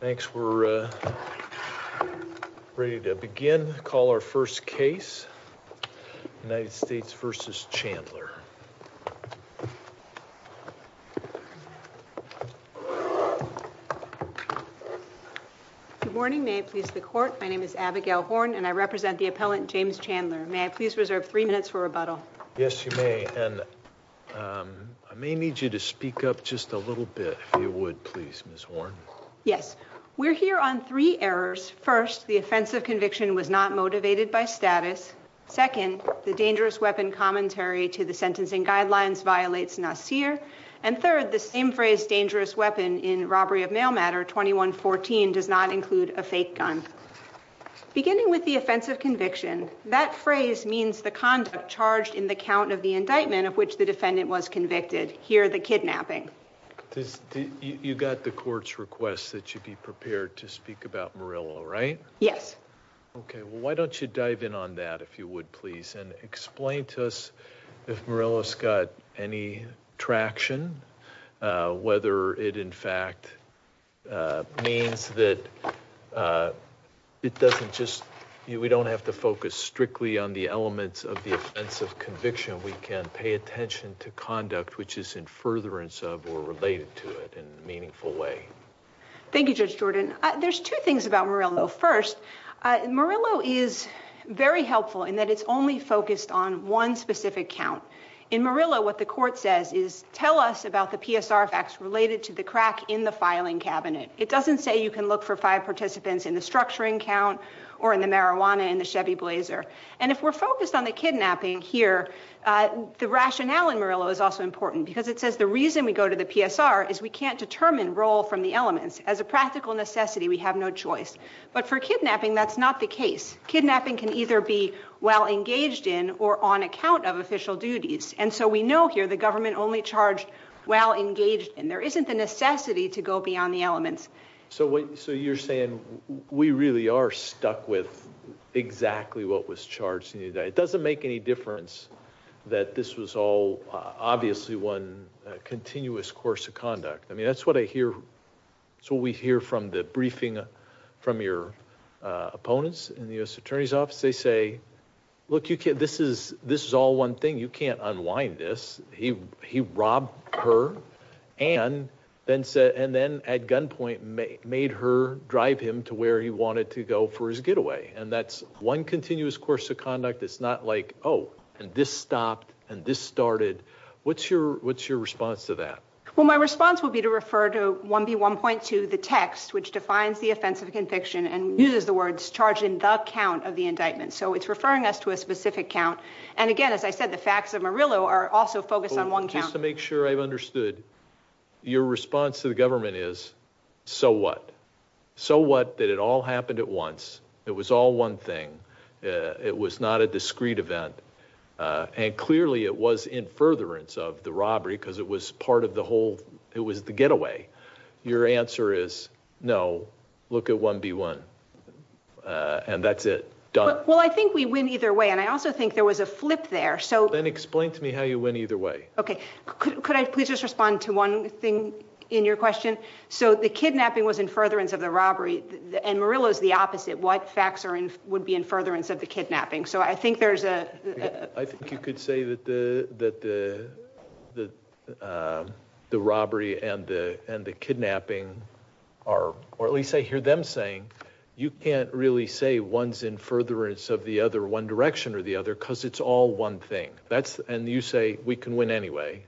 Good morning, may I please the court, my name is Abigail Horn and I represent the appellant James Chandler. May I please reserve three minutes for rebuttal? Yes, you may, and I may need you to speak up just a little bit, if you would, please, Ms. Horn. Yes. We're here on three errors. First, the offensive conviction was not motivated by status. Second, the dangerous weapon commentary to the sentencing guidelines violates NACIR. And third, the same phrase dangerous weapon in robbery of mail matter 2114 does not include a fake gun. Beginning with the offensive conviction, that phrase means the conduct charged in the count of the indictment of which the defendant was convicted here, the kidnapping. You got the court's request that you be prepared to speak about Murillo, right? Yes. OK, well, why don't you dive in on that, if you would, please, and explain to us if Murillo's got any traction, whether it, in fact, means that it doesn't just, we don't have to focus strictly on the elements of the offensive conviction. We can pay attention to conduct which is in furtherance of or related to it in a meaningful way. Thank you, Judge Jordan. There's two things about Murillo. First, Murillo is very helpful in that it's only focused on one specific count. In Murillo, what the court says is, tell us about the PSR facts related to the crack in the filing cabinet. It doesn't say you can look for five participants in the structuring count or in the marijuana in the Chevy Blazer. And if we're focused on the kidnapping here, the rationale in Murillo is also important because it says the reason we go to the PSR is we can't determine role from the elements. As a practical necessity, we have no choice. But for kidnapping, that's not the case. Kidnapping can either be well engaged in or on account of official duties. And so we know here the government only charged well engaged and there isn't the necessity to go beyond the elements. So what you're saying, we really are stuck with exactly what was charged. It doesn't make any difference that this was all obviously one continuous course of conduct. I mean, that's what I hear. That's what we hear from the briefing from your opponents in the U.S. Attorney's Office. They say, look, this is all one thing. You can't unwind this. He robbed her and then at gunpoint made her drive him to where he wanted to go for his getaway. And that's one continuous course of conduct. It's not like, oh, and this stopped and this started. What's your response to that? Well, my response would be to refer to 1B1.2, the text, which defines the offense of conviction and uses the words charged in the count of the indictment. So it's referring us to a specific count. And again, as I said, the facts of Murillo are also focused on one count. Just to make sure I've understood, your response to the government is, so what? So what that it all happened at once? It was all one thing. It was not a discrete event. And clearly it was in furtherance of the robbery because it was part of the whole, it was the getaway. Your answer is, no, look at 1B1. And that's it. Done. Well, I think we win either way. And I also think there was a flip there. So then explain to me how you win either way. Okay. Could I please just respond to one thing in your question? So the kidnapping was in furtherance of the robbery and Murillo is the opposite. What facts would be in furtherance of the kidnapping? So I think there's a... I think you could say that the robbery and the kidnapping are, or at least I hear them saying, you can't really say one's in furtherance of the other one direction or the other, because it's all one thing. And you say we can win anyway,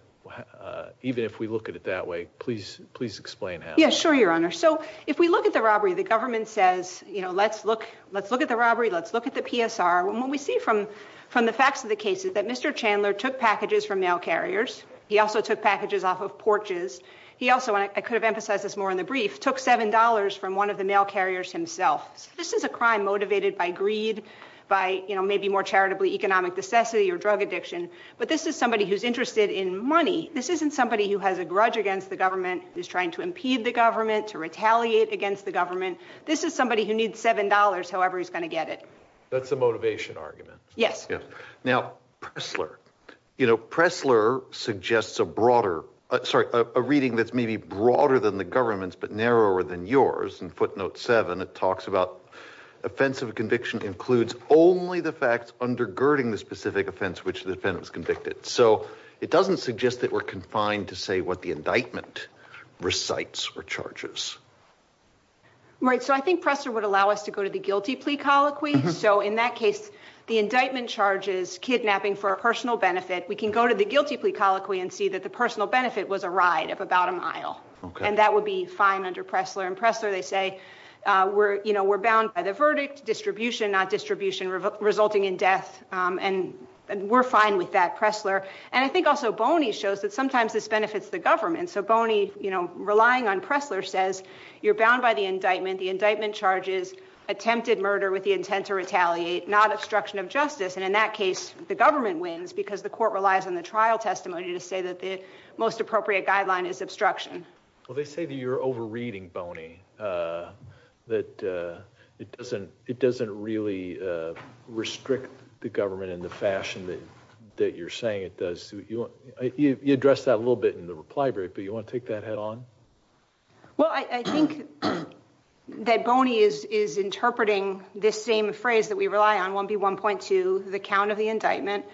even if we look at it that way. Please explain how. Yeah, sure, your honor. So if we look at the robbery, the government says, you know, let's look at the robbery. Let's look at the PSR. And what we see from the facts of the case is that Mr. Chandler took packages from mail carriers. He also took packages off of porches. He also, and I could have emphasized this more in the brief, took $7 from one of the mail carriers himself. This is a crime motivated by greed, by maybe more charitably economic necessity or drug addiction. But this is somebody who's interested in money. This isn't somebody who has a grudge against the government, who's trying to impede the government, to retaliate against the government. This is somebody who needs $7, however he's going to get it. That's a motivation argument. Yes. Now, Pressler, you know, Pressler suggests a broader, sorry, a reading that's maybe broader than the government's, but narrower than yours. In footnote seven, it talks about offensive conviction includes only the facts undergirding the specific offense which the defendant was convicted. So it doesn't suggest that we're confined to say what the indictment recites or charges. Right. So I think Pressler would allow us to go to the guilty plea colloquy. So in that case, the indictment charges kidnapping for a personal benefit. We can go to the guilty plea colloquy and see that the personal benefit was a ride of about a mile. And that would be fine under Pressler and Pressler, they say, we're, you know, we're bound by the verdict distribution, not distribution resulting in death. And we're fine with that Pressler. And I think also Boney shows that sometimes this benefits the government. So Boney, you know, relying on Pressler says you're bound by the indictment. The indictment charges attempted murder with the intent to retaliate, not obstruction of justice. And in that case, the government wins because the court relies on the trial testimony to say that the most appropriate guideline is obstruction. Well, they say that you're overreading Boney, that it doesn't, it doesn't really restrict the government in the fashion that you're saying it does. You addressed that a little bit in the reply, but you want to take that head on? Well, I think that Boney is interpreting this same phrase that we rely on, 1B1.2, the count of the indictment.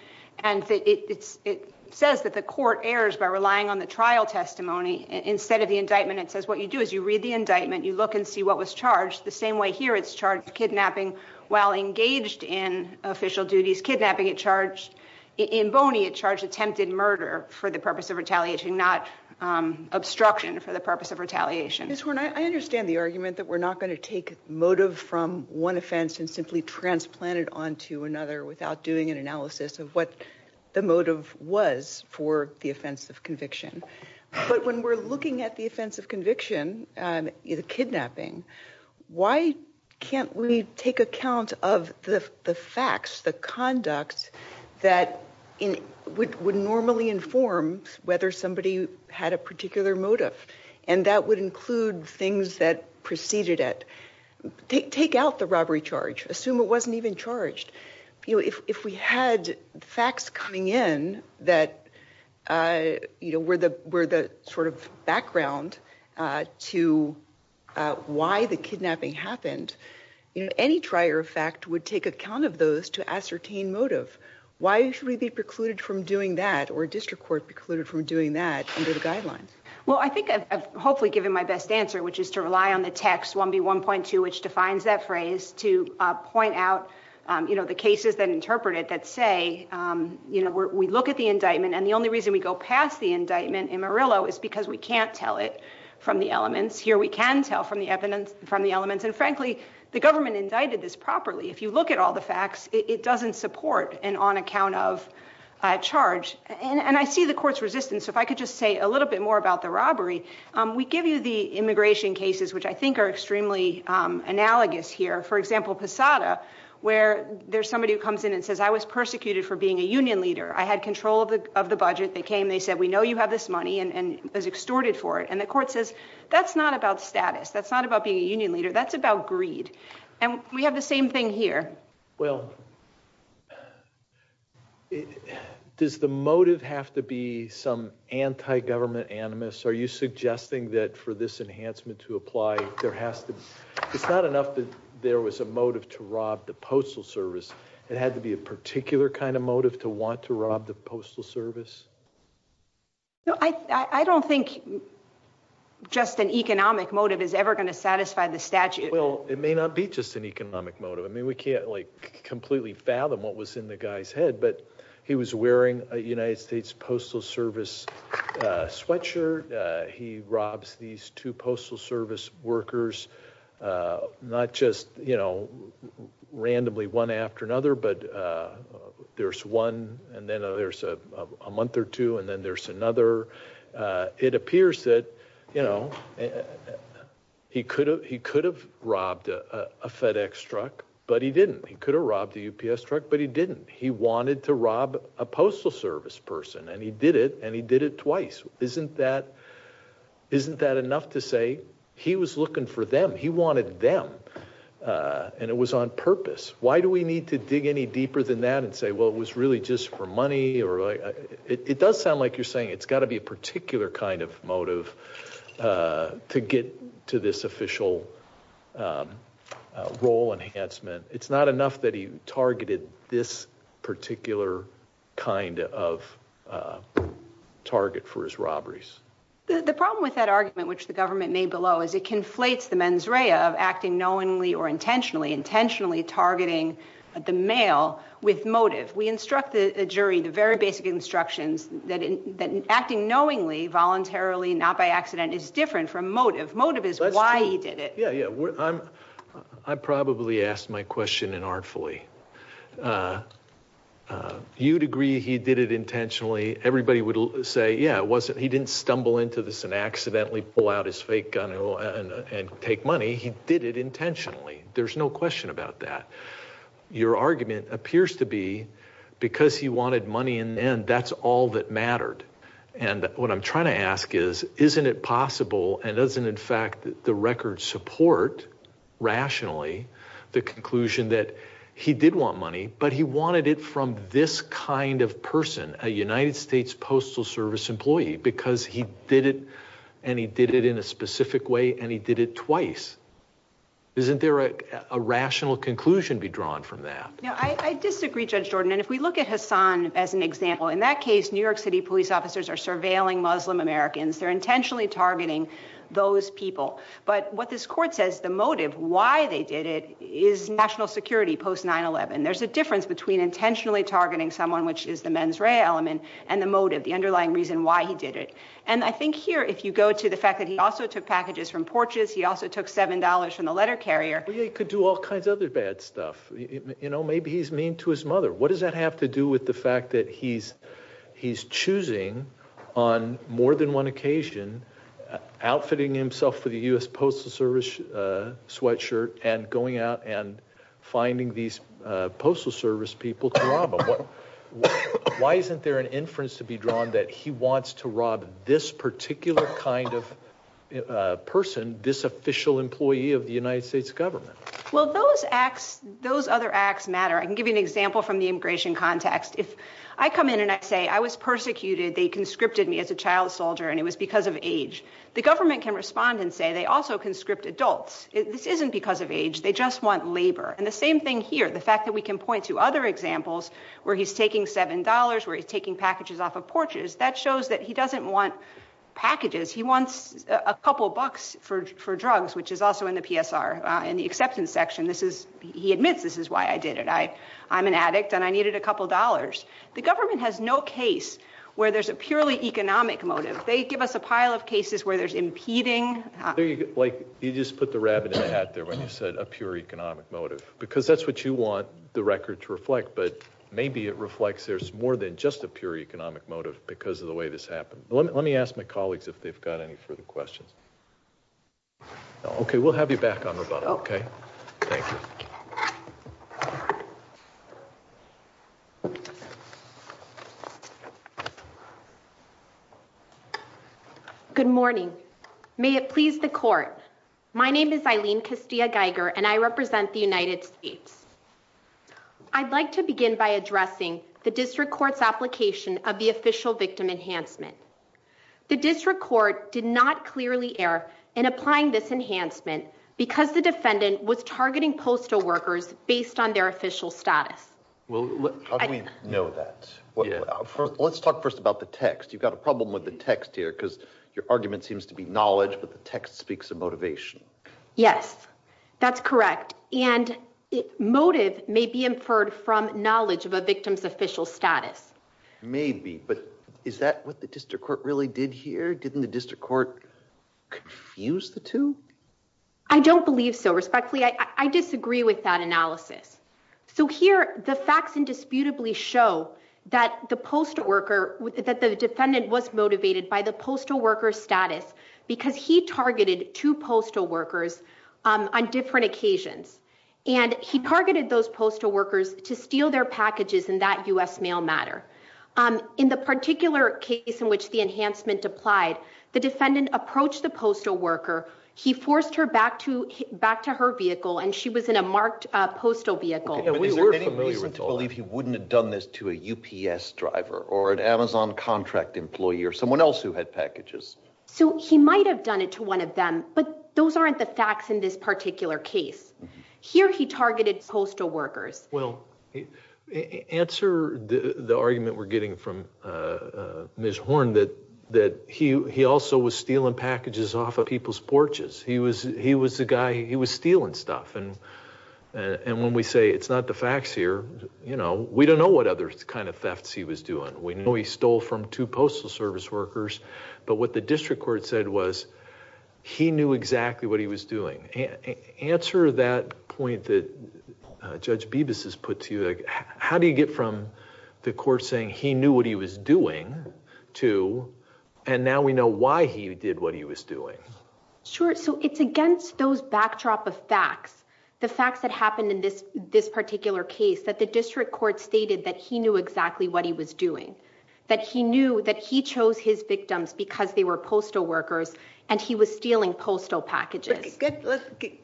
And it says that the court errs by relying on the trial testimony instead of the indictment. It says what you do is you read the indictment, you look and see what was charged the same way here. It's charged kidnapping while engaged in official duties, kidnapping at charge. Attempted murder for the purpose of retaliation, not obstruction for the purpose of retaliation. Ms. Horne, I understand the argument that we're not going to take motive from one offense and simply transplant it onto another without doing an analysis of what the motive was for the offense of conviction. But when we're looking at the offense of conviction, the kidnapping, why can't we take account of the facts, the conduct that would normally inform whether somebody had a particular motive? And that would include things that preceded it. Take out the robbery charge, assume it wasn't even charged. If we had facts coming in that were the sort of background to why the kidnapping happened, any trier of fact would take account of those to ascertain motive. Why should we be precluded from doing that or district court precluded from doing that under the guidelines? Well, I think I've hopefully given my best answer, which is to rely on the text 1B1.2, which defines that phrase to point out the cases that interpret it that say we look at the indictment and the only reason we go past the indictment in Murillo is because we can't tell it from the elements. And frankly, the government indicted this properly. If you look at all the facts, it doesn't support an on-account-of charge. And I see the court's resistance. If I could just say a little bit more about the robbery. We give you the immigration cases, which I think are extremely analogous here. For example, Posada, where there's somebody who comes in and says, I was persecuted for being a union leader. I had control of the budget, they came, they said, we know you have this money and was extorted for it. And the court says, that's not about status. That's not about being a union leader. That's about greed. And we have the same thing here. Well, does the motive have to be some anti-government animus? Are you suggesting that for this enhancement to apply, there has to be, it's not enough that there was a motive to rob the Postal Service, it had to be a particular kind of motive to want to rob the Postal Service? No, I don't think just an economic motive is ever going to satisfy the statute. Well, it may not be just an economic motive. I mean, we can't like completely fathom what was in the guy's head, but he was wearing a United States Postal Service sweatshirt. He robs these two Postal Service workers, not just, you know, randomly one after another, but there's one, and then there's a month or two, and then there's another. It appears that, you know, he could have robbed a FedEx truck, but he didn't. He could have robbed a UPS truck, but he didn't. He wanted to rob a Postal Service person, and he did it, and he did it twice. Isn't that enough to say he was looking for them? He wanted them, and it was on purpose. Why do we need to dig any deeper than that and say, well, it was really just for money? It does sound like you're saying it's got to be a particular kind of motive to get to this official role enhancement. It's not enough that he targeted this particular kind of target for his robberies. The problem with that argument, which the government made below, is it conflates the intentionally, intentionally targeting the mail with motive. We instruct the jury, the very basic instructions, that acting knowingly, voluntarily, not by accident, is different from motive. Motive is why he did it. That's true. Yeah, yeah. I probably asked my question inartfully. You'd agree he did it intentionally. Everybody would say, yeah, he didn't stumble into this and accidentally pull out his fake gun and take money. He did it intentionally. There's no question about that. Your argument appears to be, because he wanted money in the end, that's all that mattered. And what I'm trying to ask is, isn't it possible, and doesn't in fact the record support, rationally, the conclusion that he did want money, but he wanted it from this kind of person, a United States Postal Service employee, because he did it, and he did it in a specific way, and he did it twice? Isn't there a rational conclusion to be drawn from that? Yeah, I disagree, Judge Jordan. And if we look at Hassan as an example, in that case, New York City police officers are surveilling Muslim Americans. They're intentionally targeting those people. But what this court says, the motive, why they did it, is national security post 9-11. There's a difference between intentionally targeting someone, which is the mens rea element, and the motive, the underlying reason why he did it. And I think here, if you go to the fact that he also took packages from porches, he also took $7 from the letter carrier. Well, he could do all kinds of other bad stuff. Maybe he's mean to his mother. What does that have to do with the fact that he's choosing, on more than one occasion, outfitting himself with a U.S. Postal Service sweatshirt, and going out and finding these Postal Service people to rob him? Why isn't there an inference to be drawn that he wants to rob this particular kind of person, this official employee of the United States government? Well, those acts, those other acts matter. I can give you an example from the immigration context. If I come in and I say, I was persecuted, they conscripted me as a child soldier, and it was because of age, the government can respond and say, they also conscript adults. This isn't because of age. They just want labor. And the same thing here, the fact that we can point to other examples where he's taking $7, where he's taking packages off of porches, that shows that he doesn't want packages. He wants a couple bucks for drugs, which is also in the PSR, in the acceptance section. He admits, this is why I did it. I'm an addict, and I needed a couple dollars. The government has no case where there's a purely economic motive. They give us a pile of cases where there's impeding. You just put the rabbit in the hat there when you said a pure economic motive. Because that's what you want the record to reflect, but maybe it reflects there's more than just a pure economic motive because of the way this happened. Let me ask my colleagues if they've got any further questions. Okay, we'll have you back on the phone, okay? Thank you. Good morning, may it please the court. My name is Eileen Castilla-Geiger, and I represent the United States. I'd like to begin by addressing the district court's application of the official victim enhancement. The district court did not clearly err in applying this enhancement because the defendant was targeting postal workers based on their official status. Well, how do we know that? Let's talk first about the text. You've got a problem with the text here, because your argument seems to be knowledge, but the text speaks of motivation. Yes, that's correct. And motive may be inferred from knowledge of a victim's official status. Maybe, but is that what the district court really did here? Didn't the district court confuse the two? I don't believe so. Respectfully, I disagree with that analysis. So here, the facts indisputably show that the post worker, that the defendant was motivated by the postal worker status, because he targeted two postal workers on different occasions. And he targeted those postal workers to steal their packages in that US mail matter. In the particular case in which the enhancement applied, the defendant approached the postal worker. He forced her back to her vehicle, and she was in a marked postal vehicle. Is there any reason to believe he wouldn't have done this to a UPS driver, or an Amazon contract employee, or someone else who had packages? So he might have done it to one of them, but those aren't the facts in this particular case. Here, he targeted postal workers. Well, answer the argument we're getting from Ms. Horn, that he also was stealing packages off of people's porches. He was the guy, he was stealing stuff. And when we say it's not the facts here, we don't know what other kind of thefts he was doing. We know he stole from two postal service workers. But what the district court said was, he knew exactly what he was doing. Answer that point that Judge Bibas has put to you. How do you get from the court saying he knew what he was doing to, and now we know why he did what he was doing? Sure, so it's against those backdrop of facts. The facts that happened in this particular case, that the district court stated that he knew exactly what he was doing. That he knew that he chose his victims because they were postal workers, and he was stealing postal packages.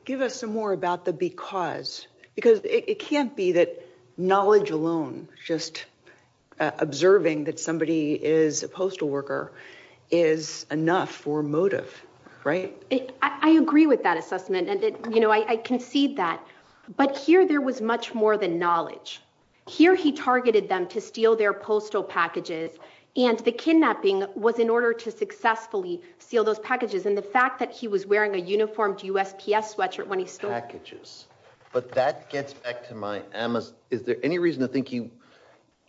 Give us some more about the because. Because it can't be that knowledge alone, just observing that somebody is a postal worker, is enough for motive, right? I agree with that assessment, and I concede that. But here, there was much more than knowledge. Here, he targeted them to steal their postal packages, and the kidnapping was in order to successfully steal those packages. And the fact that he was wearing a uniformed USPS sweatshirt when he stole- Packages, but that gets back to my, is there any reason to think it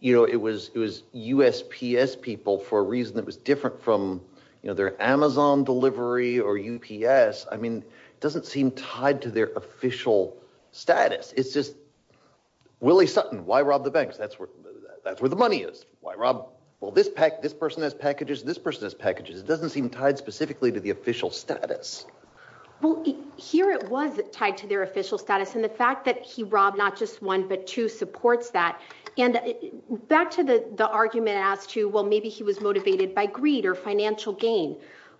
was USPS people for a reason that was different from their Amazon delivery or UPS? I mean, it doesn't seem tied to their official status. It's just Willie Sutton, why rob the banks? That's where the money is. Why rob? Well, this person has packages, this person has packages. It doesn't seem tied specifically to the official status. Well, here it was tied to their official status, and the fact that he robbed not just one, but two supports that. And back to the argument as to, well, maybe he was motivated by greed or financial gain.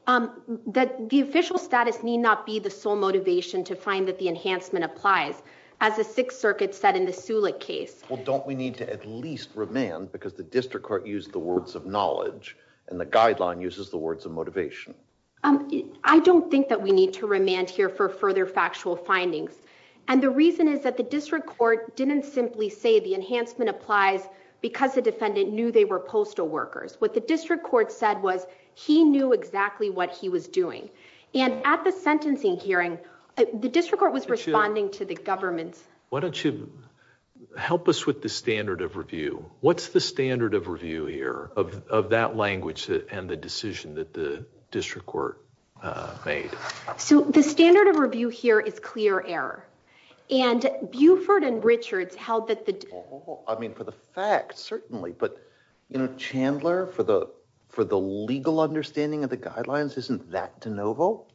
That the official status need not be the sole motivation to find that the enhancement applies, as the Sixth Circuit said in the Sulek case. Well, don't we need to at least remand because the district court used the words of knowledge, and the guideline uses the words of motivation. I don't think that we need to remand here for further factual findings. And the reason is that the district court didn't simply say the enhancement applies because the defendant knew they were postal workers. What the district court said was he knew exactly what he was doing. And at the sentencing hearing, the district court was responding to the government. Why don't you help us with the standard of review? What's the standard of review here of that language and the decision that the district court made? So the standard of review here is clear error. And Buford and Richards held that the- I mean, for the facts, certainly. But Chandler, for the legal understanding of the guidelines, isn't that de novo?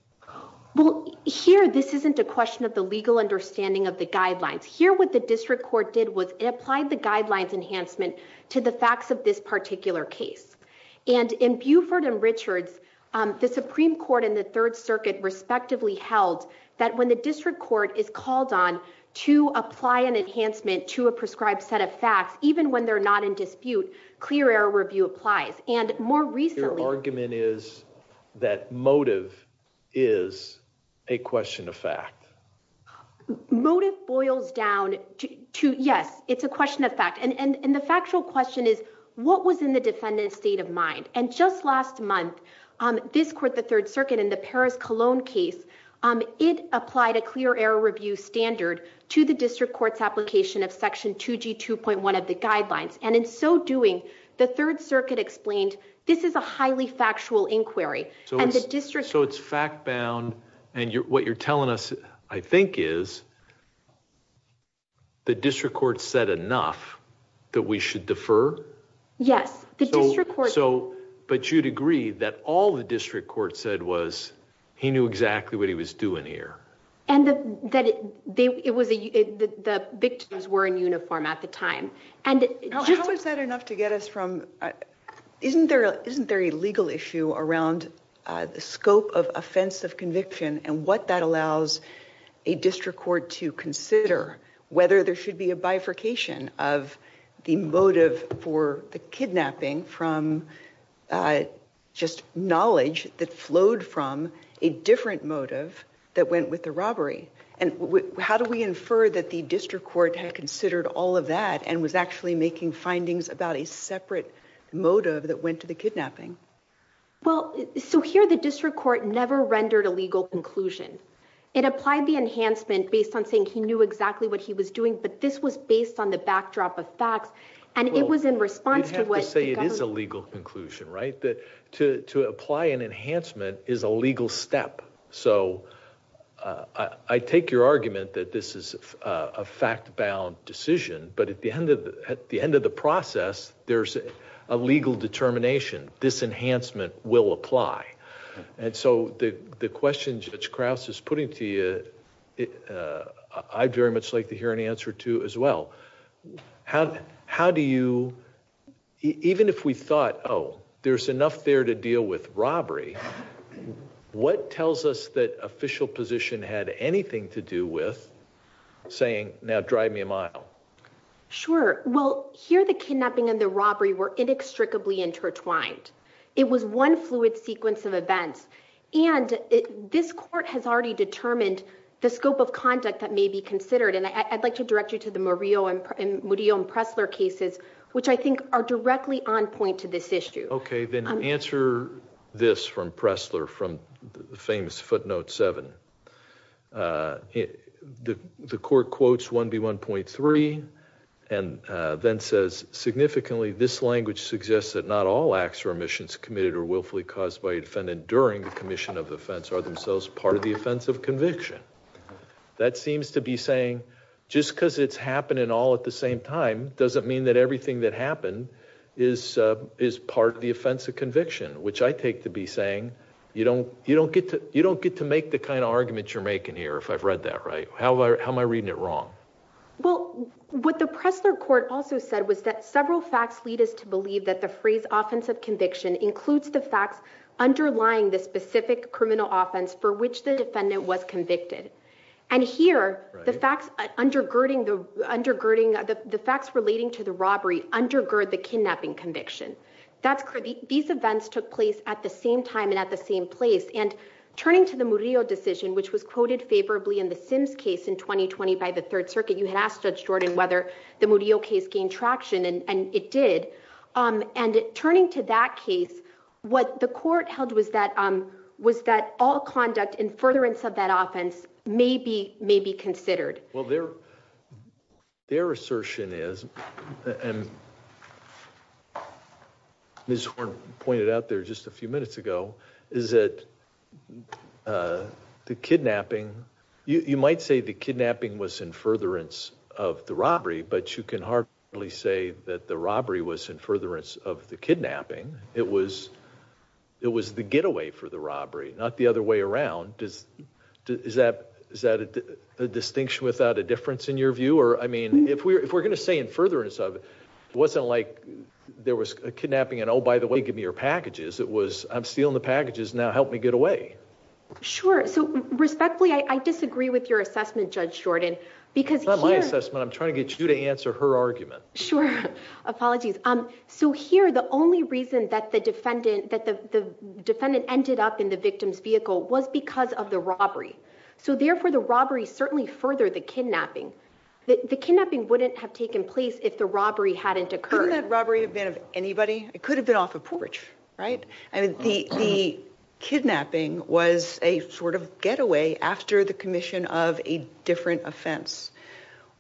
Well, here this isn't a question of the legal understanding of the guidelines. Here what the district court did was it applied the guidelines enhancement to the facts of this particular case. And in Buford and Richards, the Supreme Court and the Third Circuit respectively held that when the district court is called on to apply an enhancement to a prescribed set of facts, even when they're not in dispute, clear error review applies. And more recently- Your argument is that motive is a question of fact. Motive boils down to, yes, it's a question of fact. And the factual question is, what was in the defendant's state of mind? And just last month, this court, the Third Circuit, in the Paris Cologne case, it applied a clear error review standard to the district court's application of section 2G2.1 of the guidelines. And in so doing, the Third Circuit explained, this is a highly factual inquiry, and the district- So it's fact-bound, and what you're telling us, I think, is the district court said enough that we should defer? Yes, the district court- So, but you'd agree that all the district court said was, he knew exactly what he was doing here. And that the victims were in uniform at the time. And just- How is that enough to get us from, isn't there a legal issue around the scope of offense of conviction and what that allows a district court to consider, whether there should be a bifurcation of the motive for the kidnapping from just knowledge that flowed from a different motive that went with the robbery? And how do we infer that the district court had considered all of that and was actually making findings about a separate motive that went to the kidnapping? Well, so here the district court never rendered a legal conclusion. It applied the enhancement based on saying he knew exactly what he was doing, but this was based on the backdrop of facts. And it was in response to what- You'd have to say it is a legal conclusion, right? That to apply an enhancement is a legal step. So I take your argument that this is a fact-bound decision, but at the end of the process, there's a legal determination. This enhancement will apply. And so the question Judge Krause is putting to you, I'd very much like to hear an answer to as well. How do you, even if we thought, oh, there's enough there to deal with robbery, what tells us that official position had anything to do with saying, now drive me a mile? Sure, well, here the kidnapping and the robbery were inextricably intertwined. It was one fluid sequence of events. And this court has already determined the scope of conduct that may be considered. And I'd like to direct you to the Murillo and Pressler cases, which I think are directly on point to this issue. Okay, then answer this from Pressler, from the famous footnote seven. The court quotes 1B1.3 and then says, significantly, this language suggests that not all acts or omissions committed or willfully caused by a defendant during the commission of offense are themselves part of the offense of conviction. That seems to be saying, just because it's happening all at the same time, doesn't mean that everything that happened is part of the offense of conviction. Which I take to be saying, you don't get to make the kind of argument you're making here if I've read that right, how am I reading it wrong? Well, what the Pressler court also said was that several facts lead us to believe that the phrase offense of conviction includes the facts underlying the specific criminal offense for which the defendant was convicted. And here, the facts relating to the robbery undergird the kidnapping conviction. That's correct, these events took place at the same time and at the same place. And turning to the Murillo decision, which was quoted favorably in the Sims case in 2020 by the Third Circuit. You had asked Judge Jordan whether the Murillo case gained traction, and it did. And turning to that case, what the court held was that all conduct in furtherance of that offense may be considered. Well, their assertion is, and Ms. Horn pointed out there just a few minutes ago, is that the kidnapping, you might say the kidnapping was in furtherance of the robbery. But you can hardly say that the robbery was in furtherance of the kidnapping. It was the getaway for the robbery, not the other way around. Is that a distinction without a difference in your view? Or I mean, if we're gonna say in furtherance of it, wasn't like there was a kidnapping and by the way, give me your packages. It was, I'm stealing the packages, now help me get away. Sure, so respectfully, I disagree with your assessment, Judge Jordan. Because here- It's not my assessment, I'm trying to get you to answer her argument. Sure, apologies. So here, the only reason that the defendant ended up in the victim's vehicle was because of the robbery. So therefore, the robbery certainly furthered the kidnapping. The kidnapping wouldn't have taken place if the robbery hadn't occurred. Couldn't that robbery have been of anybody? It could have been off a porch, right? I mean, the kidnapping was a sort of getaway after the commission of a different offense.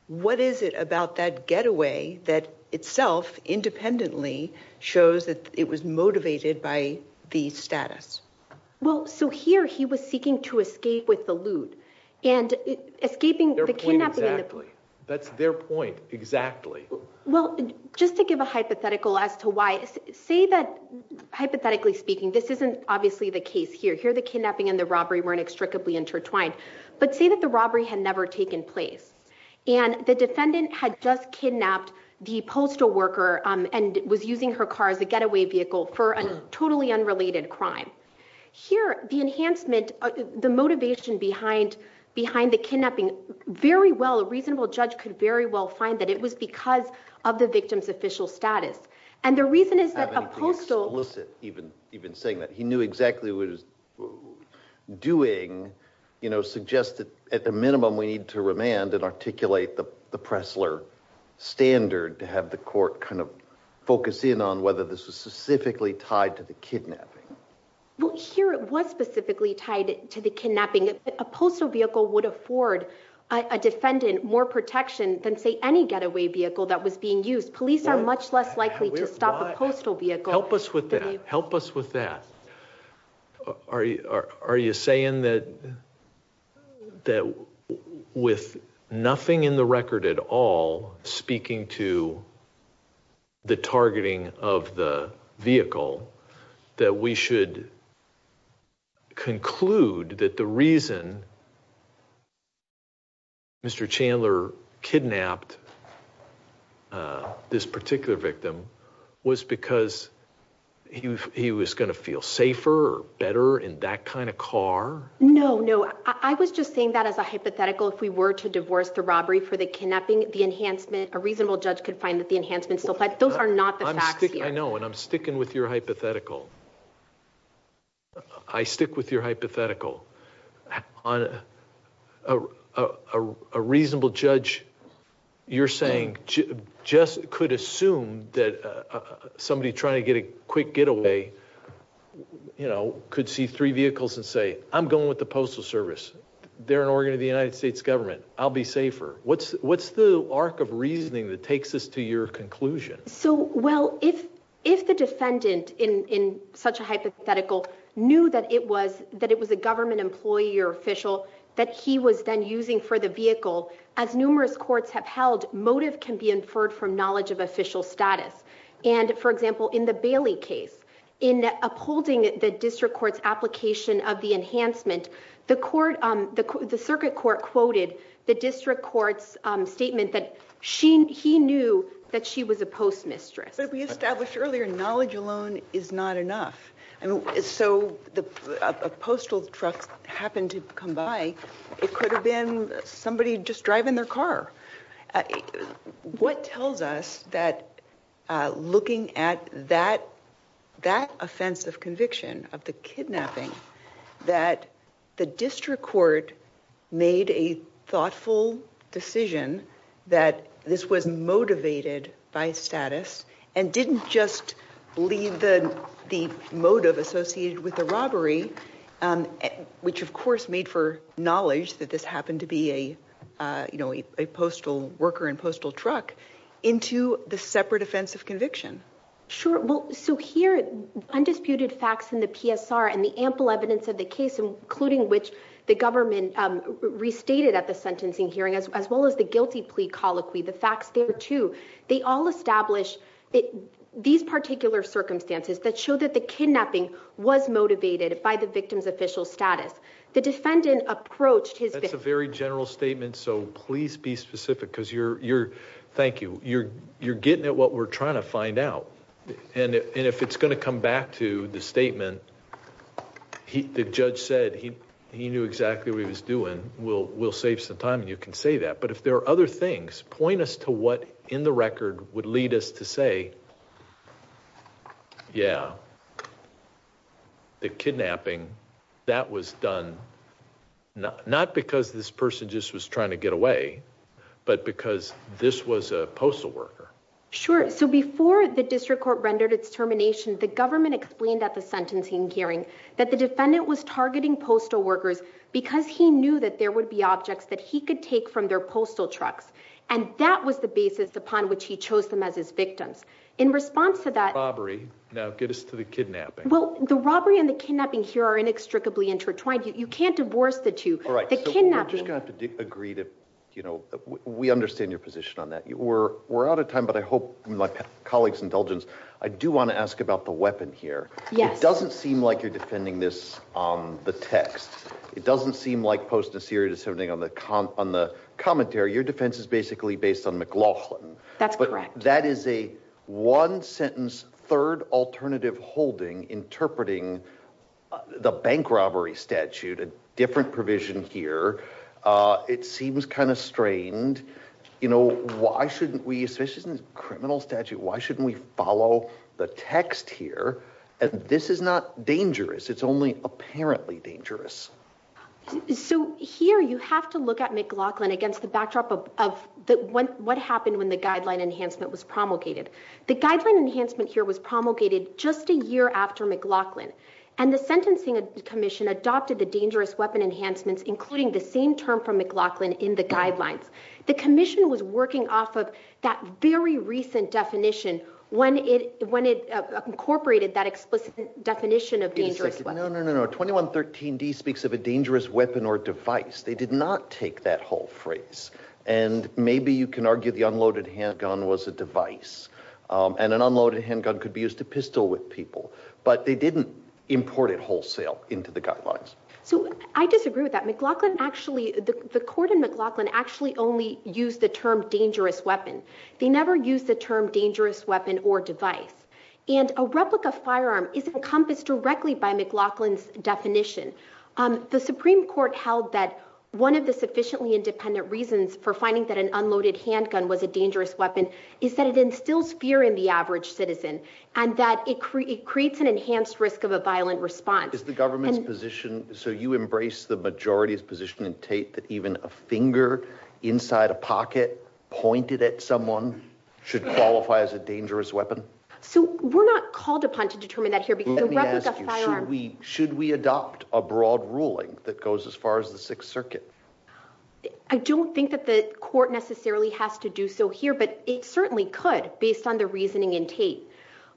What is it about that getaway that itself independently shows that it was motivated by the status? Well, so here, he was seeking to escape with the loot. And escaping the kidnapping- Their point, exactly. That's their point, exactly. Well, just to give a hypothetical as to why. Say that, hypothetically speaking, this isn't obviously the case here. Here, the kidnapping and the robbery weren't extricably intertwined. But say that the robbery had never taken place. And the defendant had just kidnapped the postal worker and was using her car as a getaway vehicle for a totally unrelated crime. Here, the enhancement, the motivation behind the kidnapping, very well, a reasonable judge could very well find that it was because of the victim's official status. And the reason is that a postal- I don't think it's explicit, even saying that. He knew exactly what he was doing, suggested at the minimum, we need to remand and articulate the Pressler standard to have the court kind of focus in on whether this was specifically tied to the kidnapping. Well, here, it was specifically tied to the kidnapping. A postal vehicle would afford a defendant more protection than, say, any getaway vehicle that was being used. Police are much less likely to stop a postal vehicle- Help us with that. Help us with that. Are you saying that with nothing in the record at all, speaking to the targeting of the vehicle, that we should conclude that the reason Mr. Chandler kidnapped this particular victim was because he was gonna feel safer or better in that kind of car? No, no, I was just saying that as a hypothetical. If we were to divorce the robbery for the kidnapping, the enhancement, a reasonable judge could find that the enhancement still applies. Those are not the facts here. I know, and I'm sticking with your hypothetical. I stick with your hypothetical. A reasonable judge, you're saying, just could assume that somebody trying to get a quick getaway could see three vehicles and say, I'm going with the Postal Service. They're an organ of the United States government. I'll be safer. What's the arc of reasoning that takes us to your conclusion? So, well, if the defendant, in such a hypothetical, knew that it was a government employee or official that he was then using for the vehicle, as numerous courts have held, motive can be inferred from knowledge of official status. And, for example, in the Bailey case, in upholding the district court's application of the enhancement, the circuit court quoted the district court's statement that he knew that she was a postmistress. But we established earlier, knowledge alone is not enough. And so, a postal truck happened to come by. It could have been somebody just driving their car. What tells us that looking at that offense of conviction, of the kidnapping, that the district court made a thoughtful decision that this was motivated by status and didn't just leave the motive associated with the robbery, which of course made for knowledge that this happened to be a postal worker and Sure, well, so here, undisputed facts in the PSR and the ample evidence of the case, including which the government restated at the sentencing hearing, as well as the guilty plea colloquy, the facts there too, they all establish these particular circumstances that show that the kidnapping was motivated by the victim's official status. The defendant approached his- That's a very general statement, so please be specific, because you're, thank you, you're getting at what we're trying to find out. And if it's gonna come back to the statement, the judge said he knew exactly what he was doing. We'll save some time and you can say that. But if there are other things, point us to what in the record would lead us to say, yeah, the kidnapping, that was done not because this person just was trying to get away, but because this was a postal worker. Sure, so before the district court rendered its termination, the government explained at the sentencing hearing that the defendant was targeting postal workers because he knew that there would be objects that he could take from their postal trucks. And that was the basis upon which he chose them as his victims. In response to that- Robbery, now get us to the kidnapping. Well, the robbery and the kidnapping here are inextricably intertwined. You can't divorce the two. The kidnapping- We're just gonna have to agree to, we understand your position on that. We're out of time, but I hope, from my colleague's indulgence, I do want to ask about the weapon here. Yes. It doesn't seem like you're defending this on the text. It doesn't seem like Post Naceri is defending on the commentary. Your defense is basically based on McLaughlin. That's correct. That is a one sentence, third alternative holding interpreting the bank robbery statute, a different provision here. It seems kind of strained. You know, why shouldn't we, especially in this criminal statute, why shouldn't we follow the text here? And this is not dangerous. It's only apparently dangerous. So here you have to look at McLaughlin against the backdrop of what happened when the guideline enhancement was promulgated. The guideline enhancement here was promulgated just a year after McLaughlin. And the sentencing commission adopted the dangerous weapon enhancements, including the same term from McLaughlin in the guidelines. The commission was working off of that very recent definition when it incorporated that explicit definition of dangerous weapon. No, no, no, 2113D speaks of a dangerous weapon or device. They did not take that whole phrase. And maybe you can argue the unloaded handgun was a device. And an unloaded handgun could be used to pistol with people. But they didn't import it wholesale into the guidelines. So I disagree with that. McLaughlin actually, the court in McLaughlin actually only used the term dangerous weapon. They never used the term dangerous weapon or device. And a replica firearm is encompassed directly by McLaughlin's definition. The Supreme Court held that one of the sufficiently independent reasons for finding that an unloaded handgun was a dangerous weapon, is that it instills fear in the average citizen. And that it creates an enhanced risk of a violent response. Is the government's position, so you embrace the majority's position in Tate, that even a finger inside a pocket pointed at someone should qualify as a dangerous weapon? So we're not called upon to determine that here. Let me ask you, should we adopt a broad ruling that goes as far as the Sixth Circuit? I don't think that the court necessarily has to do so here, but it certainly could, based on the reasoning in Tate.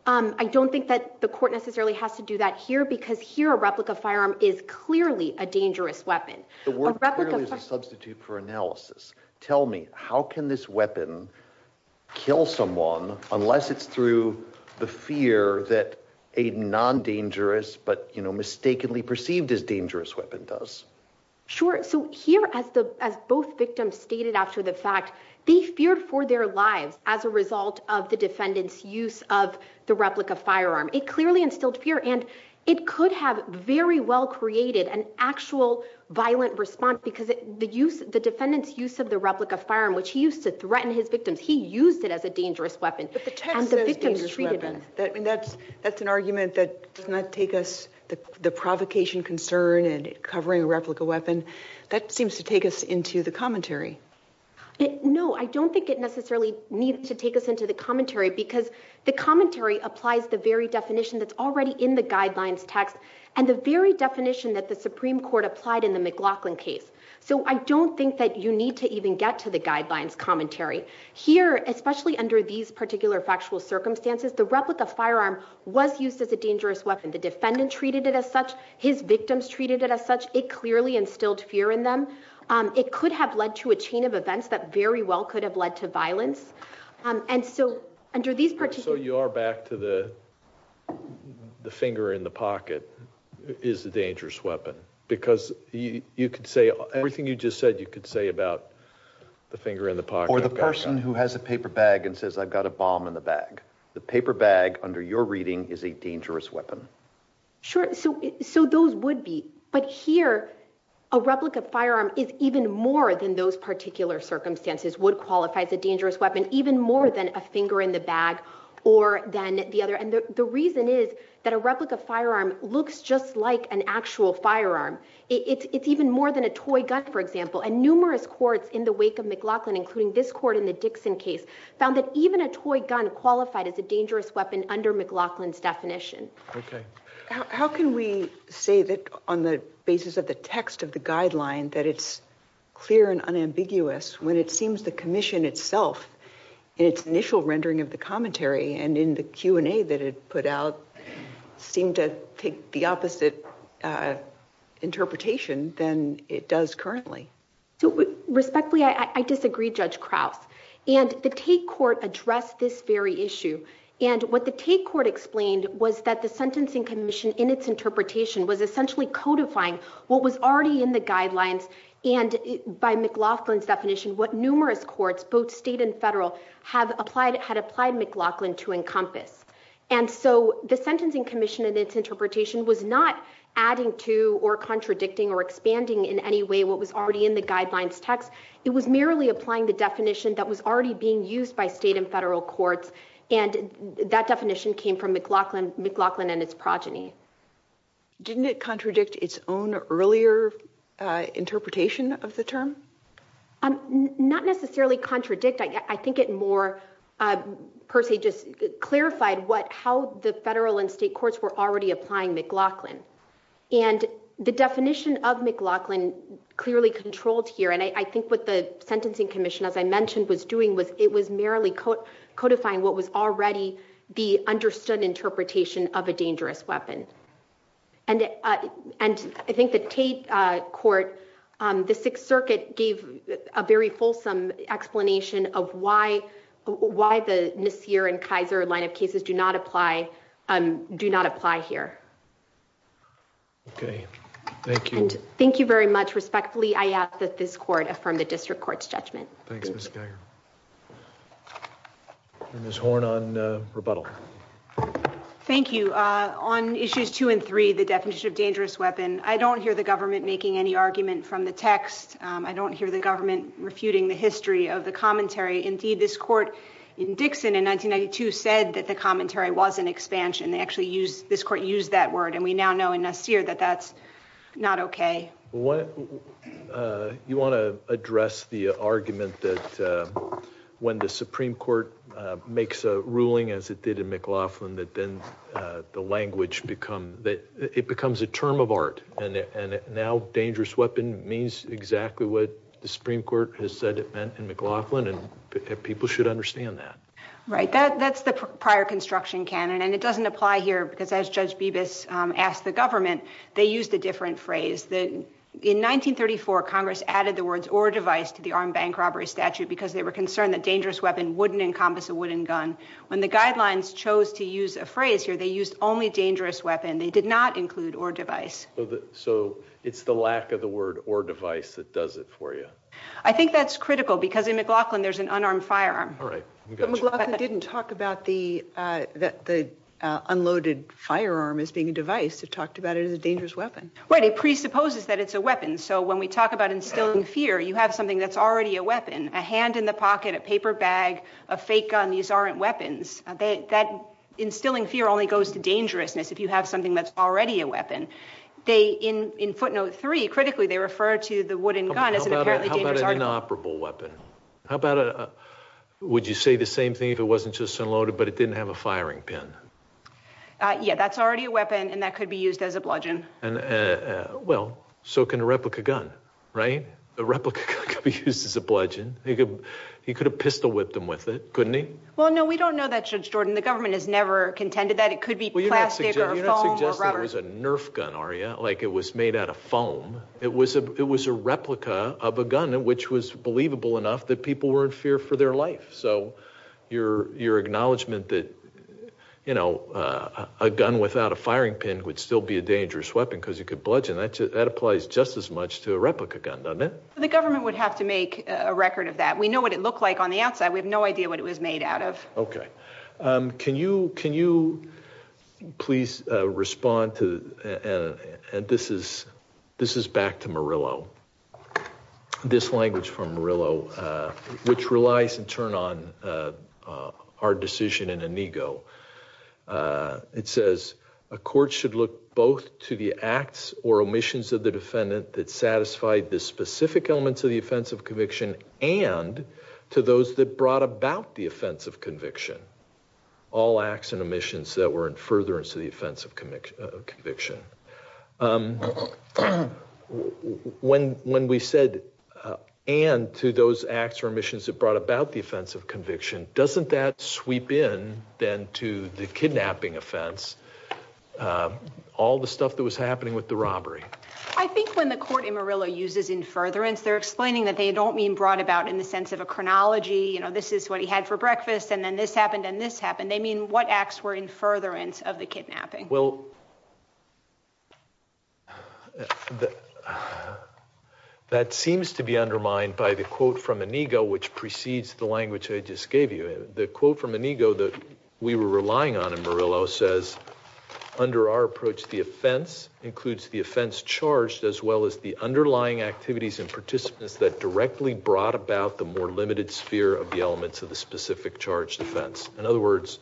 I don't think that the court necessarily has to do that here, because here a replica firearm is clearly a dangerous weapon. The word clearly is a substitute for analysis. Tell me, how can this weapon kill someone unless it's through the fear that a non-dangerous, but mistakenly perceived as dangerous weapon does? Sure, so here as both victims stated after the fact, they feared for their lives as a result of the defendant's use of the replica firearm. It clearly instilled fear, and it could have very well created an actual violent response. Because the defendant's use of the replica firearm, which he used to threaten his victims, he used it as a dangerous weapon. But the text says dangerous weapon. That's an argument that does not take us, the provocation concern and covering a replica weapon. That seems to take us into the commentary. No, I don't think it necessarily needs to take us into the commentary, because the commentary applies the very definition that's already in the guidelines text, and the very definition that the Supreme Court applied in the McLaughlin case. So I don't think that you need to even get to the guidelines commentary. Here, especially under these particular factual circumstances, the replica firearm was used as a dangerous weapon. The defendant treated it as such, his victims treated it as such, it clearly instilled fear in them. It could have led to a chain of events that very well could have led to violence. And so under these particular- So you are back to the finger in the pocket is a dangerous weapon. Because you could say everything you just said, you could say about the finger in the pocket. Or the person who has a paper bag and says, I've got a bomb in the bag. The paper bag, under your reading, is a dangerous weapon. Sure, so those would be. But here, a replica firearm is even more than those particular circumstances, would qualify as a dangerous weapon. Even more than a finger in the bag, or than the other. And the reason is that a replica firearm looks just like an actual firearm. It's even more than a toy gun, for example. And numerous courts in the wake of McLaughlin, including this court in the Dixon case, found that even a toy gun qualified as a dangerous weapon under McLaughlin's definition. Okay. How can we say that on the basis of the text of the guideline, that it's clear and unambiguous, when it seems the commission itself, in its initial rendering of the commentary and in the Q&A that it put out, seemed to take the opposite interpretation than it does currently? So respectfully, I disagree, Judge Krause. And the Tate court addressed this very issue. And what the Tate court explained was that the Sentencing Commission, in its interpretation, was essentially codifying what was already in the guidelines, and by McLaughlin's definition, what numerous courts, both state and federal, had applied McLaughlin to encompass. And so the Sentencing Commission, in its interpretation, was not adding to or contradicting or expanding in any way what was already in the guidelines text. It was merely applying the definition that was already being used by state and federal courts. And that definition came from McLaughlin and his progeny. Not necessarily contradict, I think it more per se just clarified what, how the federal and state courts were already applying McLaughlin. And the definition of McLaughlin clearly controlled here. And I think what the Sentencing Commission, as I mentioned, was doing was, it was merely codifying what was already the understood interpretation of a dangerous weapon. And I think the Tate court, the Sixth Circuit gave a very fulsome explanation of why the Nasir and Kaiser line of cases do not apply here. Okay, thank you. And thank you very much. Respectfully, I ask that this court affirm the district court's judgment. Thanks, Ms. Geiger. Ms. Horne on rebuttal. Thank you. On issues two and three, the definition of dangerous weapon, I don't hear the government making any argument from the text. I don't hear the government refuting the history of the commentary. Indeed, this court in Dixon in 1992 said that the commentary was an expansion. They actually used, this court used that word. And we now know in Nasir that that's not okay. You wanna address the argument that when the Supreme Court makes a ruling as it did in McLaughlin, that then the language become, that it becomes a term of art. And now dangerous weapon means exactly what the Supreme Court has said it meant in McLaughlin, and people should understand that. Right, that's the prior construction canon. And it doesn't apply here, because as Judge Bibas asked the government, they used a different phrase. In 1934, Congress added the words or device to the armed bank robbery statute because they were concerned that dangerous weapon wouldn't encompass a wooden gun. When the guidelines chose to use a phrase here, they used only dangerous weapon. They did not include or device. So it's the lack of the word or device that does it for you? I think that's critical, because in McLaughlin there's an unarmed firearm. All right, we got you. But McLaughlin didn't talk about the unloaded firearm as being a device. It talked about it as a dangerous weapon. Right, it presupposes that it's a weapon. So when we talk about instilling fear, you have something that's already a weapon, a hand in the pocket, a paper bag, a fake gun. These aren't weapons. That instilling fear only goes to dangerousness if you have something that's already a weapon. In footnote three, critically, they refer to the wooden gun as an apparently dangerous article. How about an inoperable weapon? How about, would you say the same thing if it wasn't just unloaded, but it didn't have a firing pin? Yeah, that's already a weapon, and that could be used as a bludgeon. And well, so can a replica gun, right? A replica gun could be used as a bludgeon. He could have pistol whipped them with it, couldn't he? Well, no, we don't know that, Judge Jordan. The government has never contended that. It could be plastic or foam or rubber. Well, you're not suggesting it was a Nerf gun, are you? Like it was made out of foam. It was a replica of a gun, which was believable enough that people were in fear for their life. So your acknowledgement that a gun without a firing pin would still be a dangerous weapon cuz you could bludgeon, that applies just as much to a replica gun, doesn't it? The government would have to make a record of that. We know what it looked like on the outside. We have no idea what it was made out of. Okay, can you please respond to, and this is back to Murillo. This language from Murillo, which relies in turn on our decision in Inigo. It says, a court should look both to the acts or omissions of the defendant that satisfied the specific elements of the offense of conviction and to those that brought about the offense of conviction. All acts and omissions that were in furtherance of the offense of conviction. When we said and to those acts or the offense of conviction, doesn't that sweep in then to the kidnapping offense? All the stuff that was happening with the robbery. I think when the court in Murillo uses in furtherance, they're explaining that they don't mean brought about in the sense of a chronology. This is what he had for breakfast, and then this happened, and this happened. They mean what acts were in furtherance of the kidnapping. Well, that seems to be undermined by the quote from Inigo, which precedes the language I just gave you. The quote from Inigo that we were relying on in Murillo says, under our approach, the offense includes the offense charged as well as the underlying activities and participants that directly brought about the more limited sphere of the elements of the specific charge defense. In other words,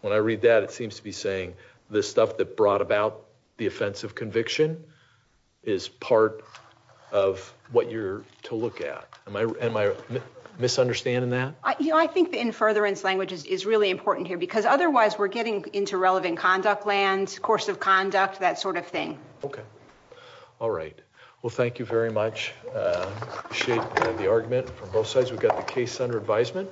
when I read that, it seems to be saying, the stuff that brought about the offensive conviction is part of what you're to look at. Am I misunderstanding that? I think the in furtherance language is really important here, because otherwise we're getting into relevant conduct land, course of conduct, that sort of thing. Okay. All right. Well, thank you very much. I appreciate the argument from both sides. We've got the case under advisement.